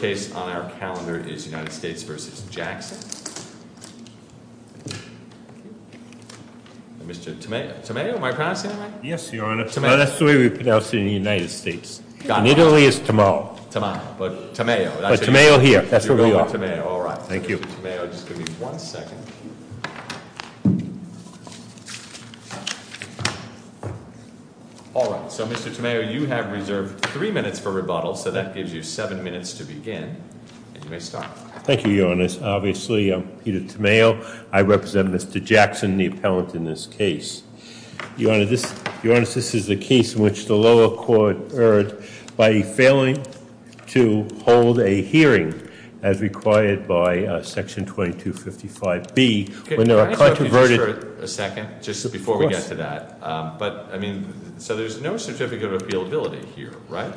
Mr. Tamayo, you have reserved three minutes for rebuttal, so that gives you seven minutes to begin and you may stop. Thank you, Your Honor. Obviously, I'm Peter Tamayo. I represent Mr. Jackson, the appellant in this case. Your Honor, this is the case in which the lower court erred by failing to hold a hearing as required by Section 2255B. Can I interrupt you just for a second, just before we get to that? Of course. So there's no certificate of appealability here, right?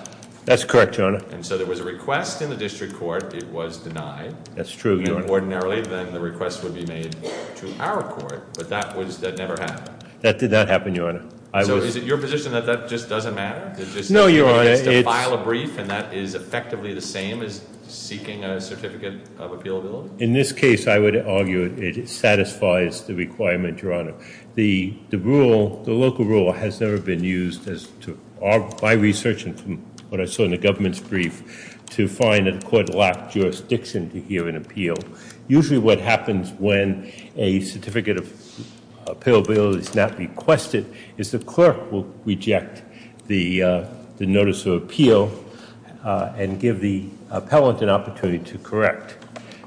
That's correct, Your Honor. And so there was a request in the district court. It was denied. That's true, Your Honor. And ordinarily, then the request would be made to our court, but that never happened. That did not happen, Your Honor. So is it your position that that just doesn't matter? No, Your Honor. Just to file a brief and that is effectively the same as seeking a certificate of appealability? In this case, I would argue it satisfies the requirement, Your Honor. The rule, the local rule, has never been used by research and from what I saw in the government's brief to find that the court lacked jurisdiction to hear an appeal. Usually what happens when a certificate of appealability is not requested is the clerk will reject the notice of appeal and give the appellant an opportunity to correct.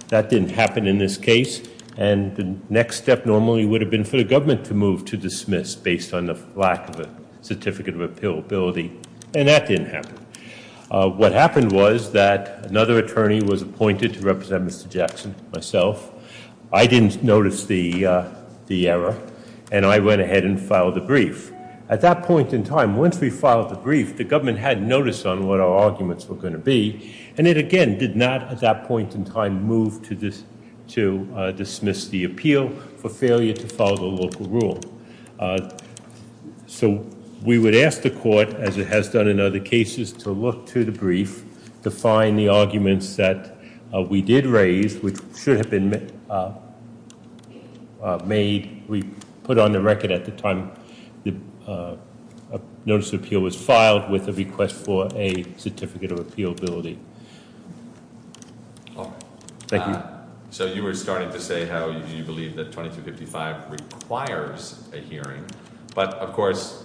That didn't happen in this case, and the next step normally would have been for the government to move to dismiss based on the lack of a certificate of appealability, and that didn't happen. What happened was that another attorney was appointed to represent Mr. Jackson, myself. I didn't notice the error, and I went ahead and filed the brief. At that point in time, once we filed the brief, the government hadn't noticed on what our arguments were going to be, and it again did not at that point in time move to dismiss the appeal for failure to follow the local rule. So we would ask the court, as it has done in other cases, to look to the brief to find the arguments that we did raise, which should have been made. We put on the record at the time the notice of appeal was filed with a request for a certificate of appealability. Thank you. So you were starting to say how you believe that 2255 requires a hearing, but of course,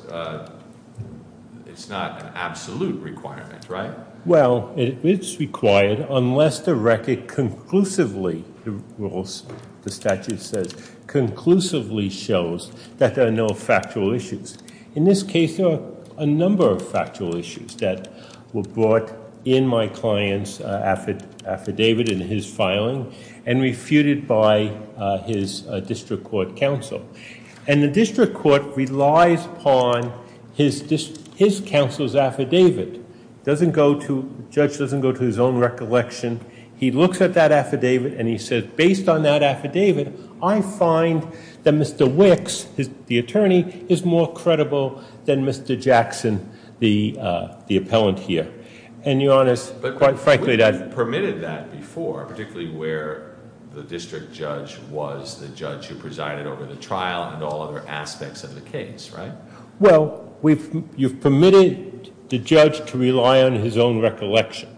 it's not an absolute requirement, right? Well, it's required unless the record conclusively, the statute says, conclusively shows that there are no factual issues. In this case, there are a number of factual issues that were brought in my client's affidavit in his filing and refuted by his district court counsel. And the district court relies upon his counsel's affidavit. The judge doesn't go to his own recollection. He looks at that affidavit and he says, based on that affidavit, I find that Mr. Wicks, the attorney, is more credible than Mr. Jackson, the appellant here. And your Honor, quite frankly, that- But you've permitted that before, particularly where the district judge was the judge who presided over the trial and all other aspects of the case, right? Well, you've permitted the judge to rely on his own recollection.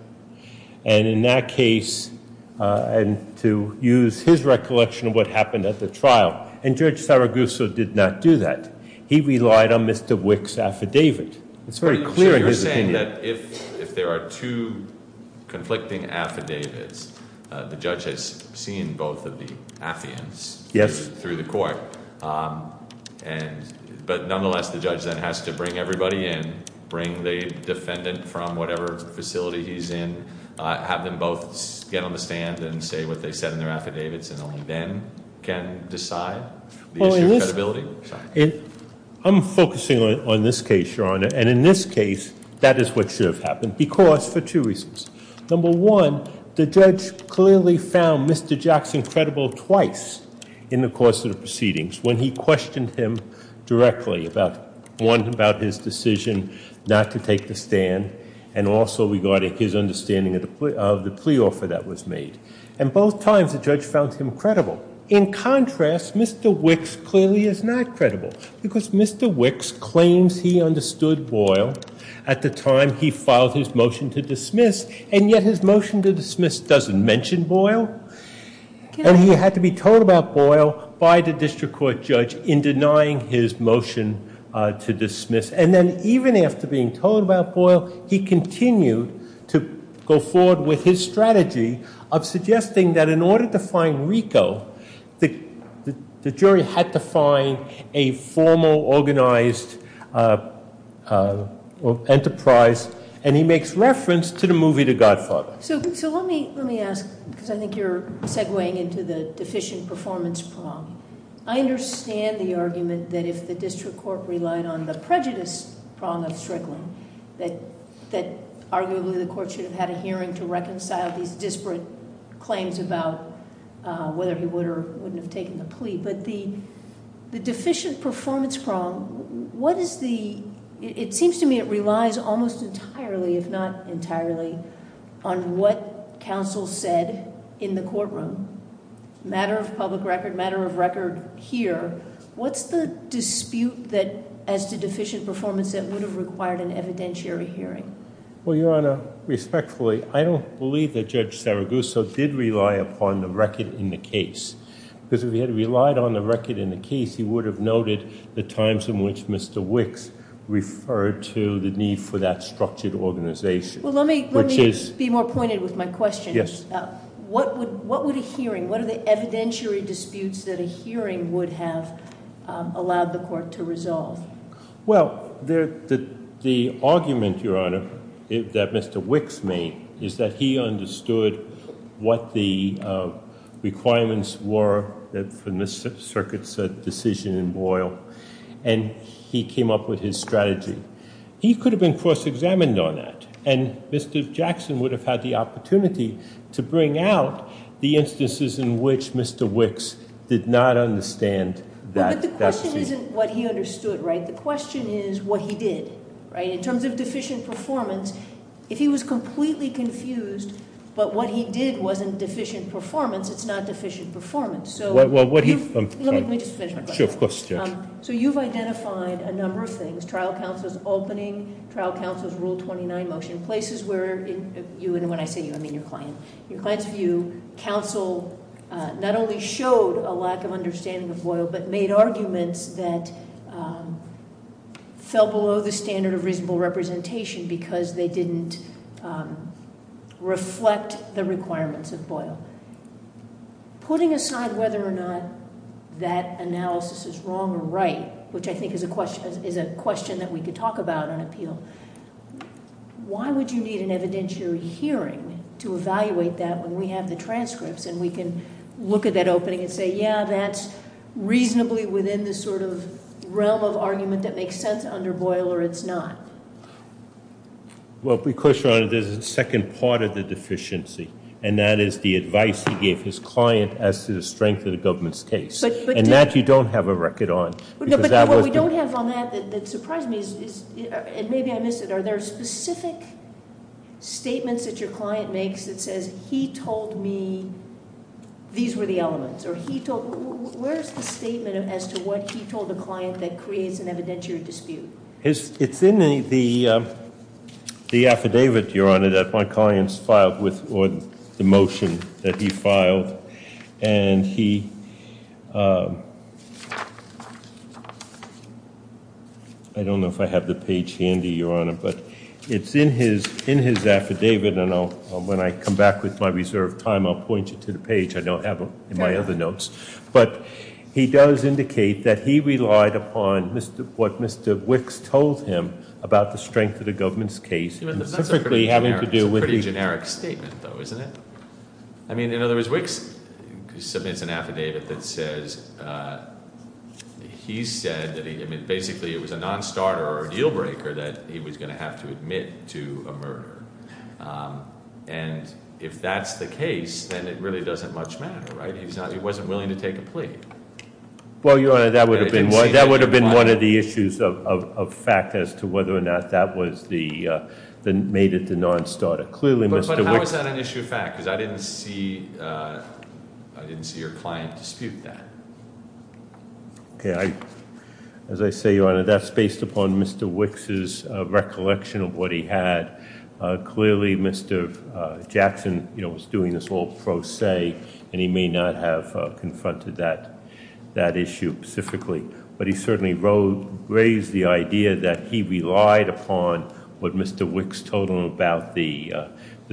And in that case, and to use his recollection of what happened at the trial, and Judge Saragusso did not do that. He relied on Mr. Wicks' affidavit. It's very clear in his opinion- So you're saying that if there are two conflicting affidavits, the judge has seen both of the affiants- Yes. Through the court. But nonetheless, the judge then has to bring everybody in, bring the defendant from whatever facility he's in, have them both get on the stand and say what they said in their affidavits, and only then can decide the issue of credibility. I'm focusing on this case, Your Honor. And in this case, that is what should have happened, because, for two reasons. Number one, the judge clearly found Mr. Jackson credible twice in the course of the proceedings, when he questioned him directly about, one, about his decision not to take the stand, and also regarding his understanding of the plea offer that was made. And both times, the judge found him credible. In contrast, Mr. Wicks clearly is not credible, because Mr. Wicks claims he understood Boyle at the time he filed his motion to dismiss, and yet his motion to dismiss doesn't mention Boyle. And he had to be told about Boyle by the district court judge in denying his motion to dismiss. And then even after being told about Boyle, he continued to go forward with his strategy of suggesting that in order to find Rico, the jury had to find a formal, organized enterprise, and he makes reference to the movie The Godfather. So let me ask, because I think you're segueing into the deficient performance prong. I understand the argument that if the district court relied on the prejudice prong of Strickland, that arguably the court should have had a hearing to reconcile these disparate claims about whether he would or wouldn't have taken the plea. But the deficient performance prong, what is the, it seems to me it relies almost entirely, if not entirely, on what counsel said in the courtroom. Matter of public record, matter of record here, what's the dispute as to deficient performance that would have required an evidentiary hearing? Well, Your Honor, respectfully, I don't believe that Judge Saragusso did rely upon the record in the case. Because if he had relied on the record in the case, he would have noted the times in which Mr. Wicks referred to the need for that structured organization. Well, let me be more pointed with my question. Yes. What would a hearing, what are the evidentiary disputes that a hearing would have allowed the court to resolve? Well, the argument, Your Honor, that Mr. Wicks made, is that he understood what the requirements were for the circuit's decision in Boyle. And he came up with his strategy. He could have been cross-examined on that. And Mr. Jackson would have had the opportunity to bring out the instances in which Mr. Wicks did not understand that- But the question isn't what he understood, right? The question is what he did, right? In terms of deficient performance, if he was completely confused, but what he did wasn't deficient performance, it's not deficient performance. So- Well, what he- Let me just finish my question. Sure, of course, Judge. So you've identified a number of things, trial counsel's opening, trial counsel's Rule 29 motion, places where you, and when I say you, I mean your client, your client's view, counsel not only showed a lack of understanding of Boyle, but made arguments that fell below the standard of reasonable representation because they didn't reflect the requirements of Boyle. Putting aside whether or not that analysis is wrong or right, which I think is a question that we could talk about on appeal, why would you need an evidentiary hearing to evaluate that when we have the transcripts and we can look at that opening and say, yeah, that's reasonably within the sort of realm of argument that makes sense under Boyle or it's not? Well, because, Your Honor, there's a second part of the deficiency, and that is the advice he gave his client as to the strength of the government's case. And that you don't have a record on. No, but what we don't have on that that surprised me is, and maybe I missed it, are there specific statements that your client makes that says he told me these were the elements, or he told, where's the statement as to what he told the client that creates an evidentiary dispute? It's in the affidavit, Your Honor, that my client's filed with, or the motion that he filed, and he, I don't know if I have the page handy, Your Honor, but it's in his affidavit, and when I come back with my reserved time, I'll point you to the page. I don't have it in my other notes. But he does indicate that he relied upon what Mr. Wicks told him about the strength of the government's case. That's a pretty generic statement, though, isn't it? I mean, in other words, Wicks submits an affidavit that says he said that he, I mean, basically it was a non-starter or a deal breaker that he was going to have to admit to a murder. And if that's the case, then it really doesn't much matter, right? He wasn't willing to take a plea. Well, Your Honor, that would have been one of the issues of fact as to whether or not that made it the non-starter. Clearly Mr. Wicks- But how is that an issue of fact? Because I didn't see your client dispute that. Okay, as I say, Your Honor, that's based upon Mr. Wicks' recollection of what he had. Clearly, Mr. Jackson was doing this whole pro se, and he may not have confronted that issue specifically. But he certainly raised the idea that he relied upon what Mr. Wicks told him about the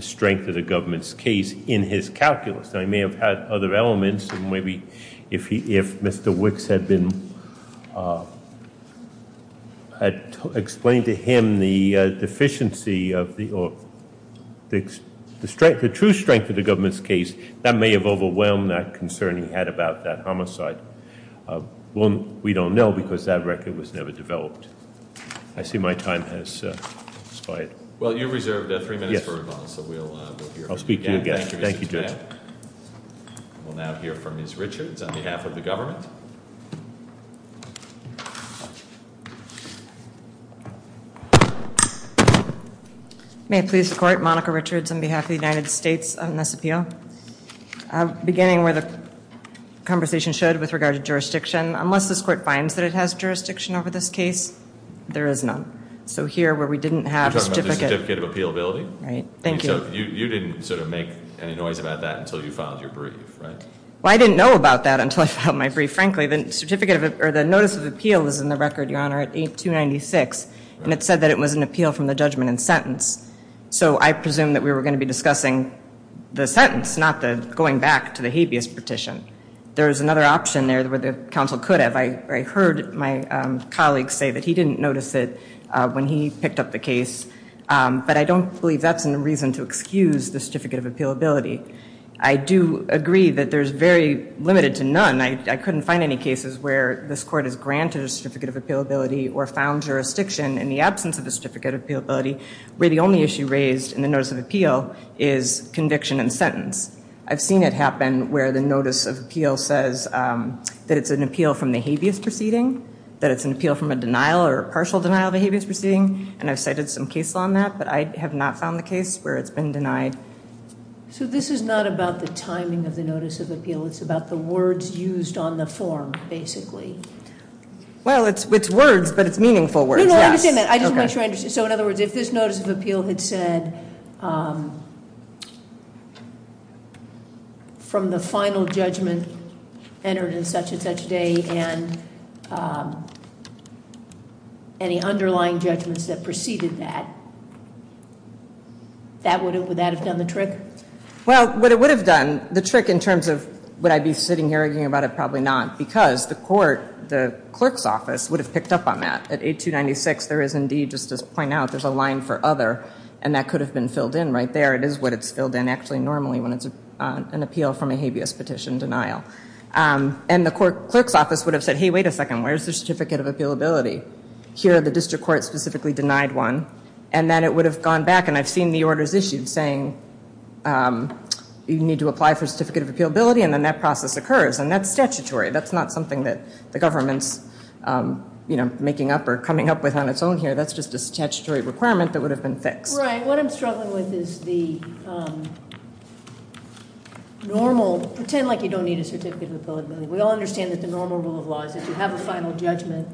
strength of the government's case in his calculus. Now, he may have had other elements, and maybe if Mr. Wicks had explained to him the deficiency or the true strength of the government's case, that may have overwhelmed that concern he had about that homicide. We don't know, because that record was never developed. I see my time has expired. Well, you reserved three minutes for rebuttal, so we'll hear from you again. I'll speak to you again. Thank you, Mr. Chairman. We'll now hear from Ms. Richards on behalf of the government. May it please the court, Monica Richards on behalf of the United States on this appeal. Beginning where the conversation showed with regard to jurisdiction, unless this court finds that it has jurisdiction over this case, there is none. So here, where we didn't have a certificate- You're talking about the certificate of appealability? Right. Thank you. So you didn't sort of make any noise about that until you filed your brief, right? Well, I didn't know about that until I filed my brief. Frankly, the notice of appeal was in the record, Your Honor, at 8-296, and it said that it was an appeal from the judgment and sentence. So I presume that we were going to be discussing the sentence, not going back to the habeas petition. There is another option there where the counsel could have. I heard my colleague say that he didn't notice it when he picked up the case, but I don't believe that's a reason to excuse the certificate of appealability. I do agree that there's very limited to none. I couldn't find any cases where this court has granted a certificate of appealability or found jurisdiction in the absence of a certificate of appealability, where the only issue raised in the notice of appeal is conviction and sentence. I've seen it happen where the notice of appeal says that it's an appeal from the habeas proceeding, that it's an appeal from a denial or partial denial of a habeas proceeding, and I've cited some case law on that, but I have not found the case where it's been denied. So this is not about the timing of the notice of appeal. It's about the words used on the form, basically. Well, it's words, but it's meaningful words. No, no, I understand that. I just want you to understand. So in other words, if this notice of appeal had said, from the final judgment entered in such and such day and any underlying judgments that preceded that, would that have done the trick? Well, what it would have done, the trick in terms of would I be sitting here arguing about it? Probably not, because the court, the clerk's office, would have picked up on that. At 8296, there is indeed, just to point out, there's a line for other, and that could have been filled in right there. It is what it's filled in, actually, normally when it's an appeal from a habeas petition denial. And the clerk's office would have said, hey, wait a second, where's the certificate of appealability? Here, the district court specifically denied one. And then it would have gone back, and I've seen the orders issued saying, you need to apply for a certificate of appealability, and then that process occurs. And that's statutory. That's not something that the government's, you know, making up or coming up with on its own here. That's just a statutory requirement that would have been fixed. Right. What I'm struggling with is the normal, pretend like you don't need a certificate of appealability. We all understand that the normal rule of law is that you have a final judgment,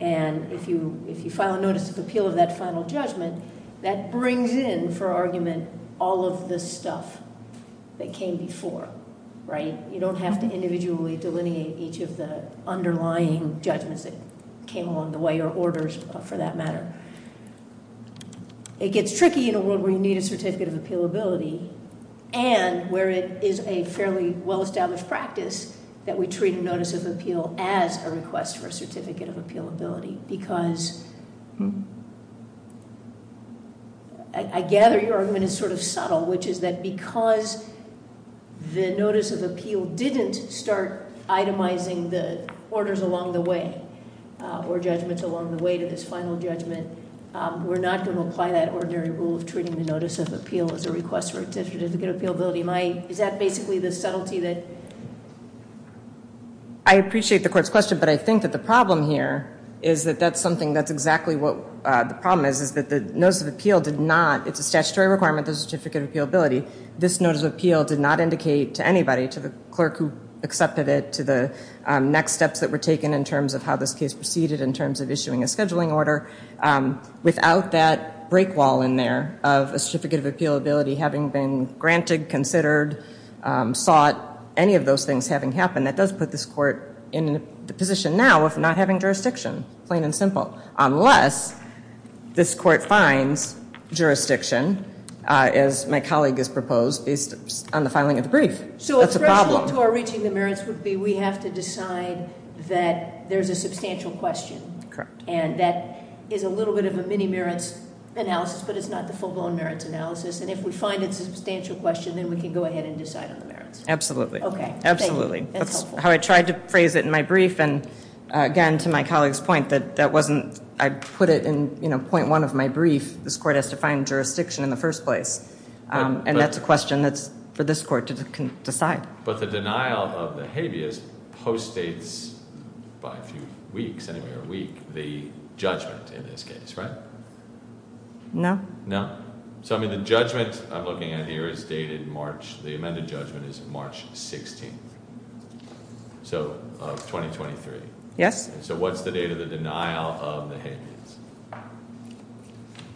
and if you file a notice of appeal of that final judgment, that brings in, for argument, all of the stuff that came before, right? You don't have to individually delineate each of the underlying judgments that came along the way or orders, for that matter. It gets tricky in a world where you need a certificate of appealability and where it is a fairly well-established practice that we treat a notice of appeal as a request for a certificate of appealability because I gather your argument is sort of subtle, which is that because the notice of appeal didn't start itemizing the orders along the way or judgments along the way to this final judgment, we're not going to apply that ordinary rule of treating the notice of appeal as a request for a certificate of appealability. Is that basically the subtlety that- I appreciate the court's question, but I think that the problem here is that that's something- that's exactly what the problem is, is that the notice of appeal did not- it's a statutory requirement, the certificate of appealability. This notice of appeal did not indicate to anybody, to the clerk who accepted it, to the next steps that were taken in terms of how this case proceeded in terms of issuing a scheduling order. Without that break wall in there of a certificate of appealability having been granted, considered, sought, any of those things having happened, that does put this court in the position now of not having jurisdiction, plain and simple. Unless this court finds jurisdiction, as my colleague has proposed, based on the filing of the brief. That's a problem. So a threshold to our reaching the merits would be we have to decide that there's a substantial question. Correct. And that is a little bit of a mini-merits analysis, but it's not the full-blown merits analysis. And if we find it's a substantial question, then we can go ahead and decide on the merits. Absolutely. Okay. Thank you. That's helpful. That's how I tried to phrase it in my brief. And again, to my colleague's point, that wasn't, I put it in point one of my brief, this court has to find jurisdiction in the first place. And that's a question that's for this court to decide. But the denial of the habeas postdates, by a few weeks anyway, or a week, the judgment in this case, right? No. No? So, I mean, the judgment I'm looking at here is dated March, the amended judgment is March 16th. So 2023. Yes. So what's the date of the denial of the habeas?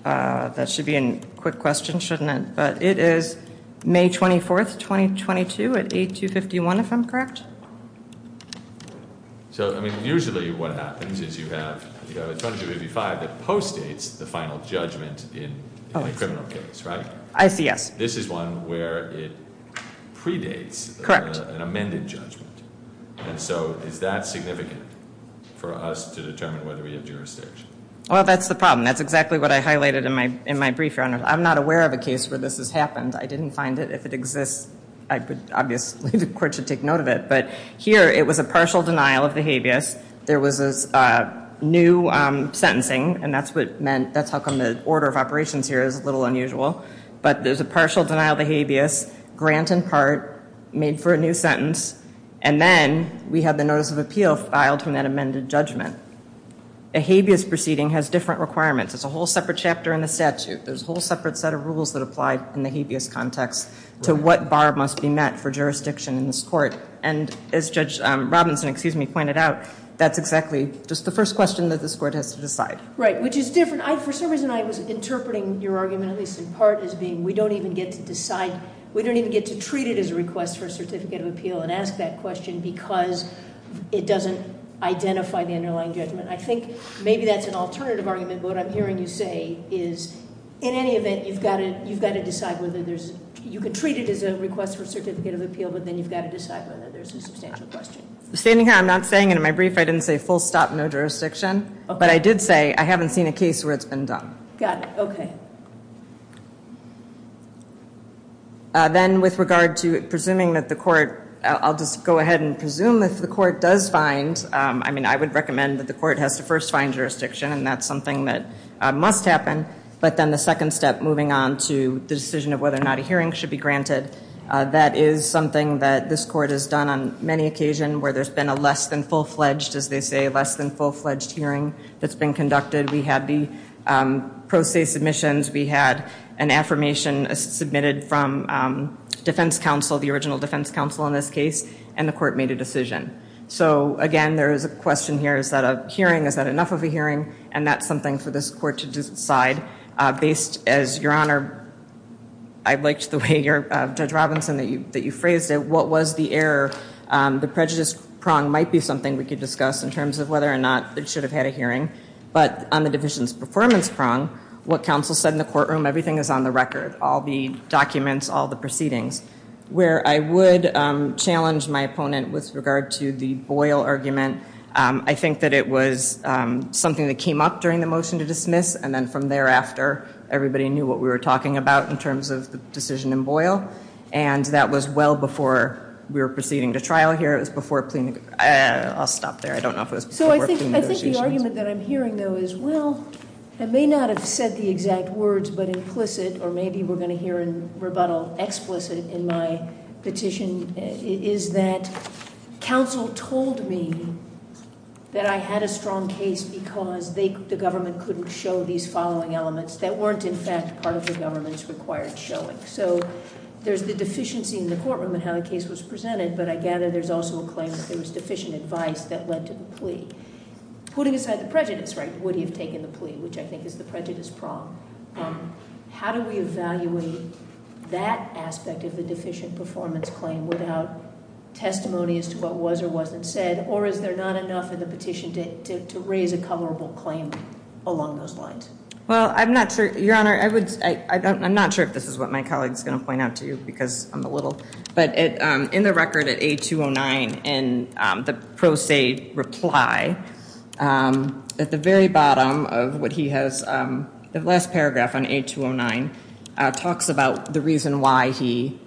That should be a quick question, shouldn't it? But it is May 24th, 2022 at 8251, if I'm correct? So, I mean, usually what happens is you have a 2255 that postdates the final judgment in a criminal case, right? I see, yes. This is one where it predates an amended judgment. And so is that significant for us to determine whether we have jurisdiction? Well, that's the problem. That's exactly what I highlighted in my brief, Your Honor. I'm not aware of a case where this has happened. I didn't find it. If it exists, obviously the court should take note of it. But here it was a partial denial of the habeas. There was a new sentencing, and that's how come the order of operations here is a little unusual. But there's a partial denial of the habeas, grant in part, made for a new sentence, and then we have the notice of appeal filed from that amended judgment. A habeas proceeding has different requirements. It's a whole separate chapter in the statute. There's a whole separate set of rules that apply in the habeas context to what bar must be met for jurisdiction in this court. And as Judge Robinson, excuse me, pointed out, that's exactly just the first question that this court has to decide. Right, which is different. For some reason I was interpreting your argument, at least in part, as being we don't even get to decide. We don't even get to treat it as a request for a certificate of appeal and ask that question because it doesn't identify the underlying judgment. I think maybe that's an alternative argument, but what I'm hearing you say is in any event, you've got to decide whether there's you can treat it as a request for a certificate of appeal, but then you've got to decide whether there's a substantial question. I'm standing here. I'm not saying it in my brief. I didn't say full stop, no jurisdiction. But I did say I haven't seen a case where it's been done. Got it. Okay. Then with regard to presuming that the court, I'll just go ahead and presume if the court does find, I mean, I would recommend that the court has to first find jurisdiction, and that's something that must happen. But then the second step moving on to the decision of whether or not a hearing should be granted, that is something that this court has done on many occasions where there's been a less than full-fledged, as they say, less than full-fledged hearing that's been conducted. We had the pro se submissions. We had an affirmation submitted from defense counsel, the original defense counsel in this case, and the court made a decision. So, again, there is a question here. Is that a hearing? Is that enough of a hearing? And that's something for this court to decide based as, Your Honor, I liked the way, Judge Robinson, that you phrased it. What was the error? The prejudice prong might be something we could discuss in terms of whether or not it should have had a hearing. But on the division's performance prong, what counsel said in the courtroom, everything is on the record, all the documents, all the proceedings. Where I would challenge my opponent with regard to the Boyle argument, I think that it was something that came up during the motion to dismiss, and then from thereafter everybody knew what we were talking about in terms of the decision in Boyle, and that was well before we were proceeding to trial here. It was before plea negotiations. I'll stop there. I don't know if it was before plea negotiations. So I think the argument that I'm hearing, though, is, Well, I may not have said the exact words, but implicit, or maybe we're going to hear in rebuttal explicit in my petition, is that counsel told me that I had a strong case because the government couldn't show these following elements that weren't, in fact, part of the government's required showing. So there's the deficiency in the courtroom in how the case was presented, but I gather there's also a claim that there was deficient advice that led to the plea. Putting aside the prejudice, right, would he have taken the plea, which I think is the prejudice problem, how do we evaluate that aspect of the deficient performance claim without testimony as to what was or wasn't said, or is there not enough in the petition to raise a coverable claim along those lines? Well, I'm not sure, Your Honor. I'm not sure if this is what my colleague is going to point out to you because I'm a little, but in the record at A209 in the pro se reply, at the very bottom of what he has, the last paragraph on A209 talks about the reason why he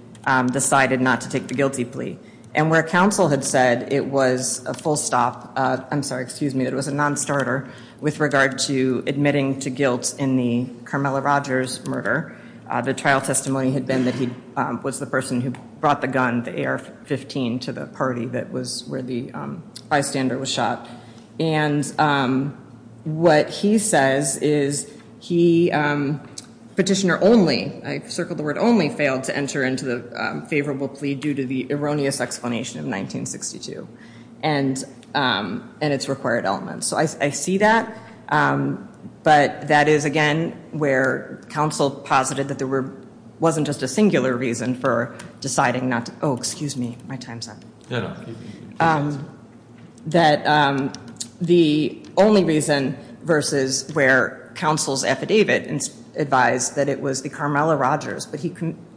decided not to take the guilty plea. And where counsel had said it was a full stop, I'm sorry, excuse me, it was a non-starter with regard to admitting to guilt in the Carmela Rogers murder, the trial testimony had been that he was the person who brought the gun, the AR-15, to the party that was where the bystander was shot. And what he says is he, petitioner only, I circled the word only, failed to enter into the favorable plea due to the erroneous explanation of 1962 and its required elements. So I see that. But that is, again, where counsel posited that there wasn't just a singular reason for deciding not to, oh, excuse me, my time's up. That the only reason versus where counsel's affidavit advised that it was the Carmela Rogers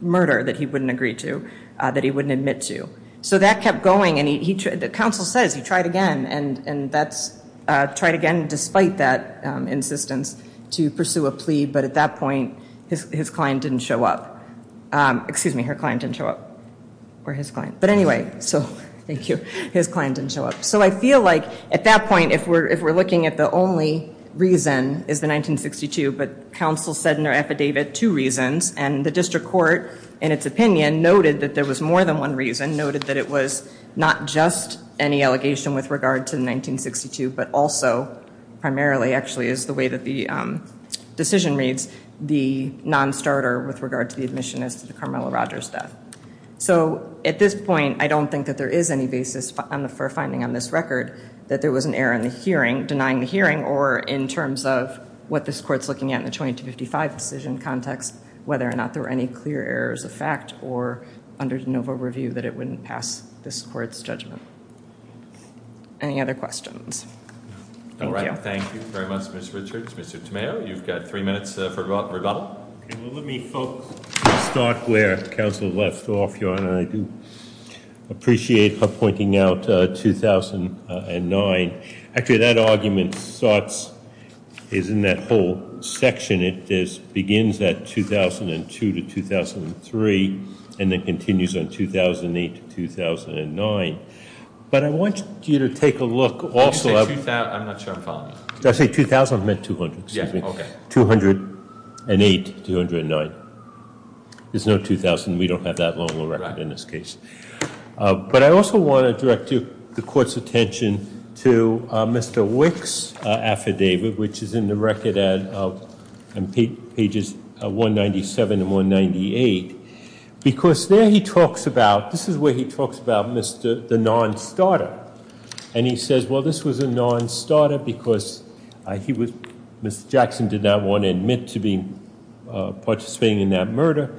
murder that he wouldn't agree to, that he wouldn't admit to. So that kept going. And counsel says he tried again. And that's tried again despite that insistence to pursue a plea. But at that point, his client didn't show up. Excuse me, her client didn't show up. Or his client. But anyway, so thank you. His client didn't show up. So I feel like at that point, if we're looking at the only reason is the 1962, but counsel said in their affidavit two reasons. And the district court, in its opinion, noted that there was more than one reason. Noted that it was not just any allegation with regard to 1962, but also primarily actually is the way that the decision reads, the non-starter with regard to the admission as to the Carmela Rogers death. So at this point, I don't think that there is any basis for finding on this record that there was an error in the hearing, denying the hearing, or in terms of what this court is looking at in the 2255 decision context, whether or not there were any clear errors of fact, or under de novo review that it wouldn't pass this court's judgment. Any other questions? All right. Thank you very much, Ms. Richards. Mr. Tomeo, you've got three minutes for rebuttal. Let me start where counsel left off, Your Honor. I do appreciate her pointing out 2009. Actually, that argument is in that whole section. It begins at 2002 to 2003, and then continues on 2008 to 2009. But I want you to take a look also at- Did you say 2000? I'm not sure I'm following you. Did I say 2000? I meant 200, excuse me. Okay. 208 to 209. There's no 2000. We don't have that long a record in this case. But I also want to direct the court's attention to Mr. Wick's affidavit, which is in the record at pages 197 and 198, because there he talks about- This is where he talks about the non-starter. And he says, well, this was a non-starter because he was- Mr. Jackson did not want to admit to participating in that murder.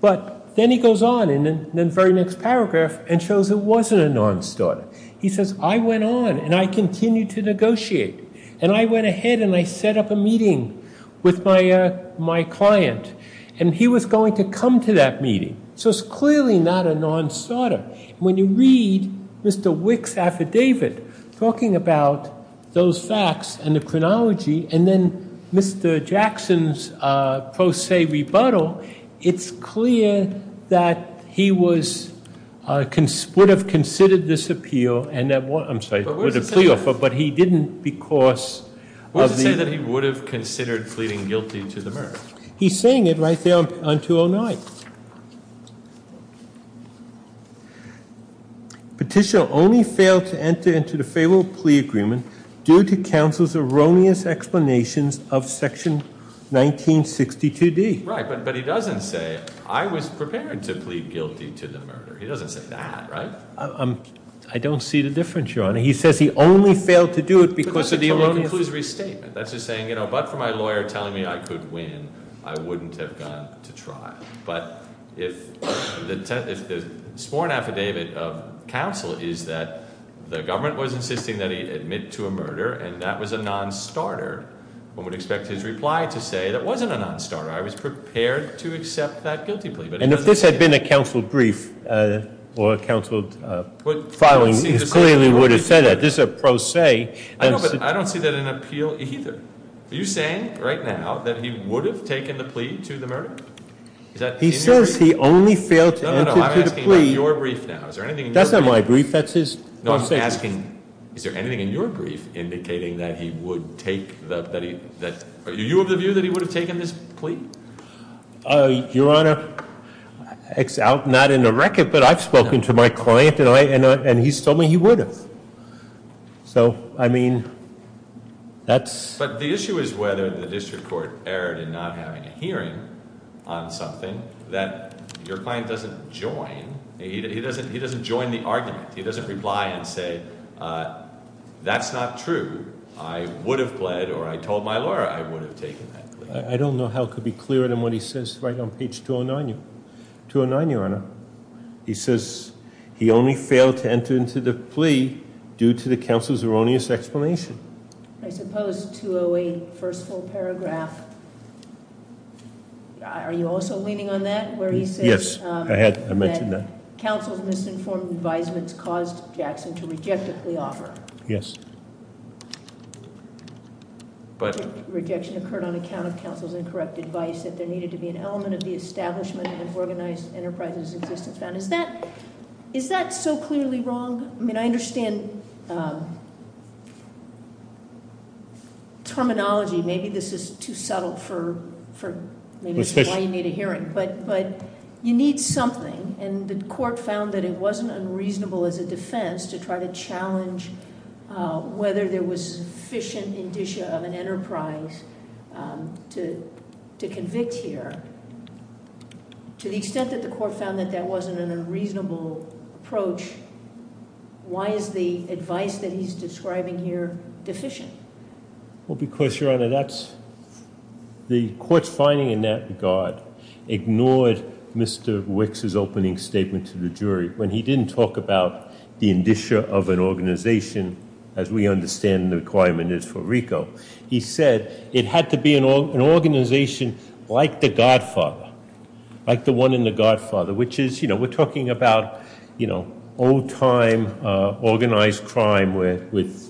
But then he goes on in the very next paragraph and shows it wasn't a non-starter. He says, I went on and I continued to negotiate, and I went ahead and I set up a meeting with my client, and he was going to come to that meeting. So it's clearly not a non-starter. When you read Mr. Wick's affidavit talking about those facts and the chronology, and then Mr. Jackson's pro se rebuttal, it's clear that he would have considered this appeal and that- I'm sorry, the plea offer, but he didn't because of the- What does it say that he would have considered pleading guilty to the murder? He's saying it right there on 209. Petitioner only failed to enter into the favorable plea agreement due to counsel's erroneous explanations of section 1962D. Right, but he doesn't say, I was prepared to plead guilty to the murder. He doesn't say that, right? I don't see the difference, Your Honor. He says he only failed to do it because- But the conclusion is restatement. That's just saying, but for my lawyer telling me I could win, I wouldn't have gone to trial. But if the sworn affidavit of counsel is that the government was insisting that he admit to a murder, and that was a non-starter, one would expect his reply to say that wasn't a non-starter. I was prepared to accept that guilty plea. And if this had been a counsel brief or a counsel filing, he clearly would have said that. This is a pro se. I don't see that in appeal either. Are you saying right now that he would have taken the plea to the murder? He says he only failed to enter into the plea. No, no, no, I'm asking about your brief now. That's not my brief. That's his pro se. No, I'm asking, is there anything in your brief indicating that he would take the, are you of the view that he would have taken this plea? Your Honor, not in the record, but I've spoken to my client and he's told me he would have. So, I mean, that's- But the issue is whether the district court erred in not having a hearing on something that your client doesn't join. He doesn't join the argument. He doesn't reply and say, that's not true. I would have pled or I told my lawyer I would have taken that plea. I don't know how it could be clearer than what he says right on page 209, your Honor. He says he only failed to enter into the plea due to the counsel's erroneous explanation. I suppose 208, first full paragraph, are you also leaning on that where he says- Yes, I had, I mentioned that. Counsel's misinformed advisements caused Jackson to reject the offer. Yes. Rejection occurred on account of counsel's incorrect advice that there needed to be an element of the establishment of organized enterprises. Is that so clearly wrong? I mean, I understand terminology. Maybe this is too subtle for why you need a hearing. But you need something. And the court found that it wasn't unreasonable as a defense to try to challenge whether there was sufficient indicia of an enterprise to convict here. To the extent that the court found that that wasn't an unreasonable approach, why is the advice that he's describing here deficient? Well, because, your Honor, the court's finding in that regard ignored Mr. Wicks' opening statement to the jury when he didn't talk about the indicia of an organization, as we understand the requirement is for RICO. He said it had to be an organization like the Godfather, like the one in the Godfather, which is, you know, we're talking about, you know, old time organized crime with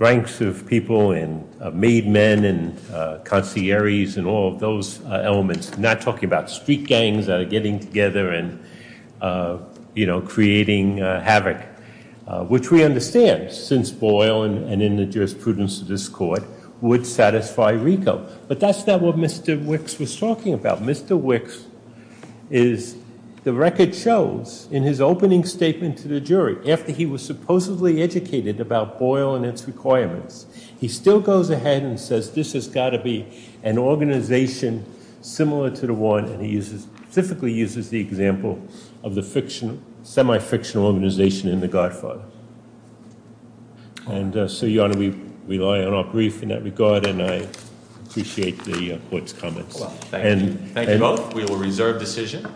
ranks of people and made men and concierges and all of those elements. I'm not talking about street gangs that are getting together and, you know, creating havoc, which we understand since Boyle and in the jurisprudence of this court would satisfy RICO. But that's not what Mr. Wicks was talking about. Mr. Wicks is, the record shows in his opening statement to the jury, after he was supposedly educated about Boyle and its requirements, he still goes ahead and says this has got to be an organization similar to the one, and he specifically uses the example of the fiction, semi-fictional organization in the Godfather. And so, Your Honor, we rely on our brief in that regard, and I appreciate the court's comments. Thank you. Thank you both. We will reserve decision.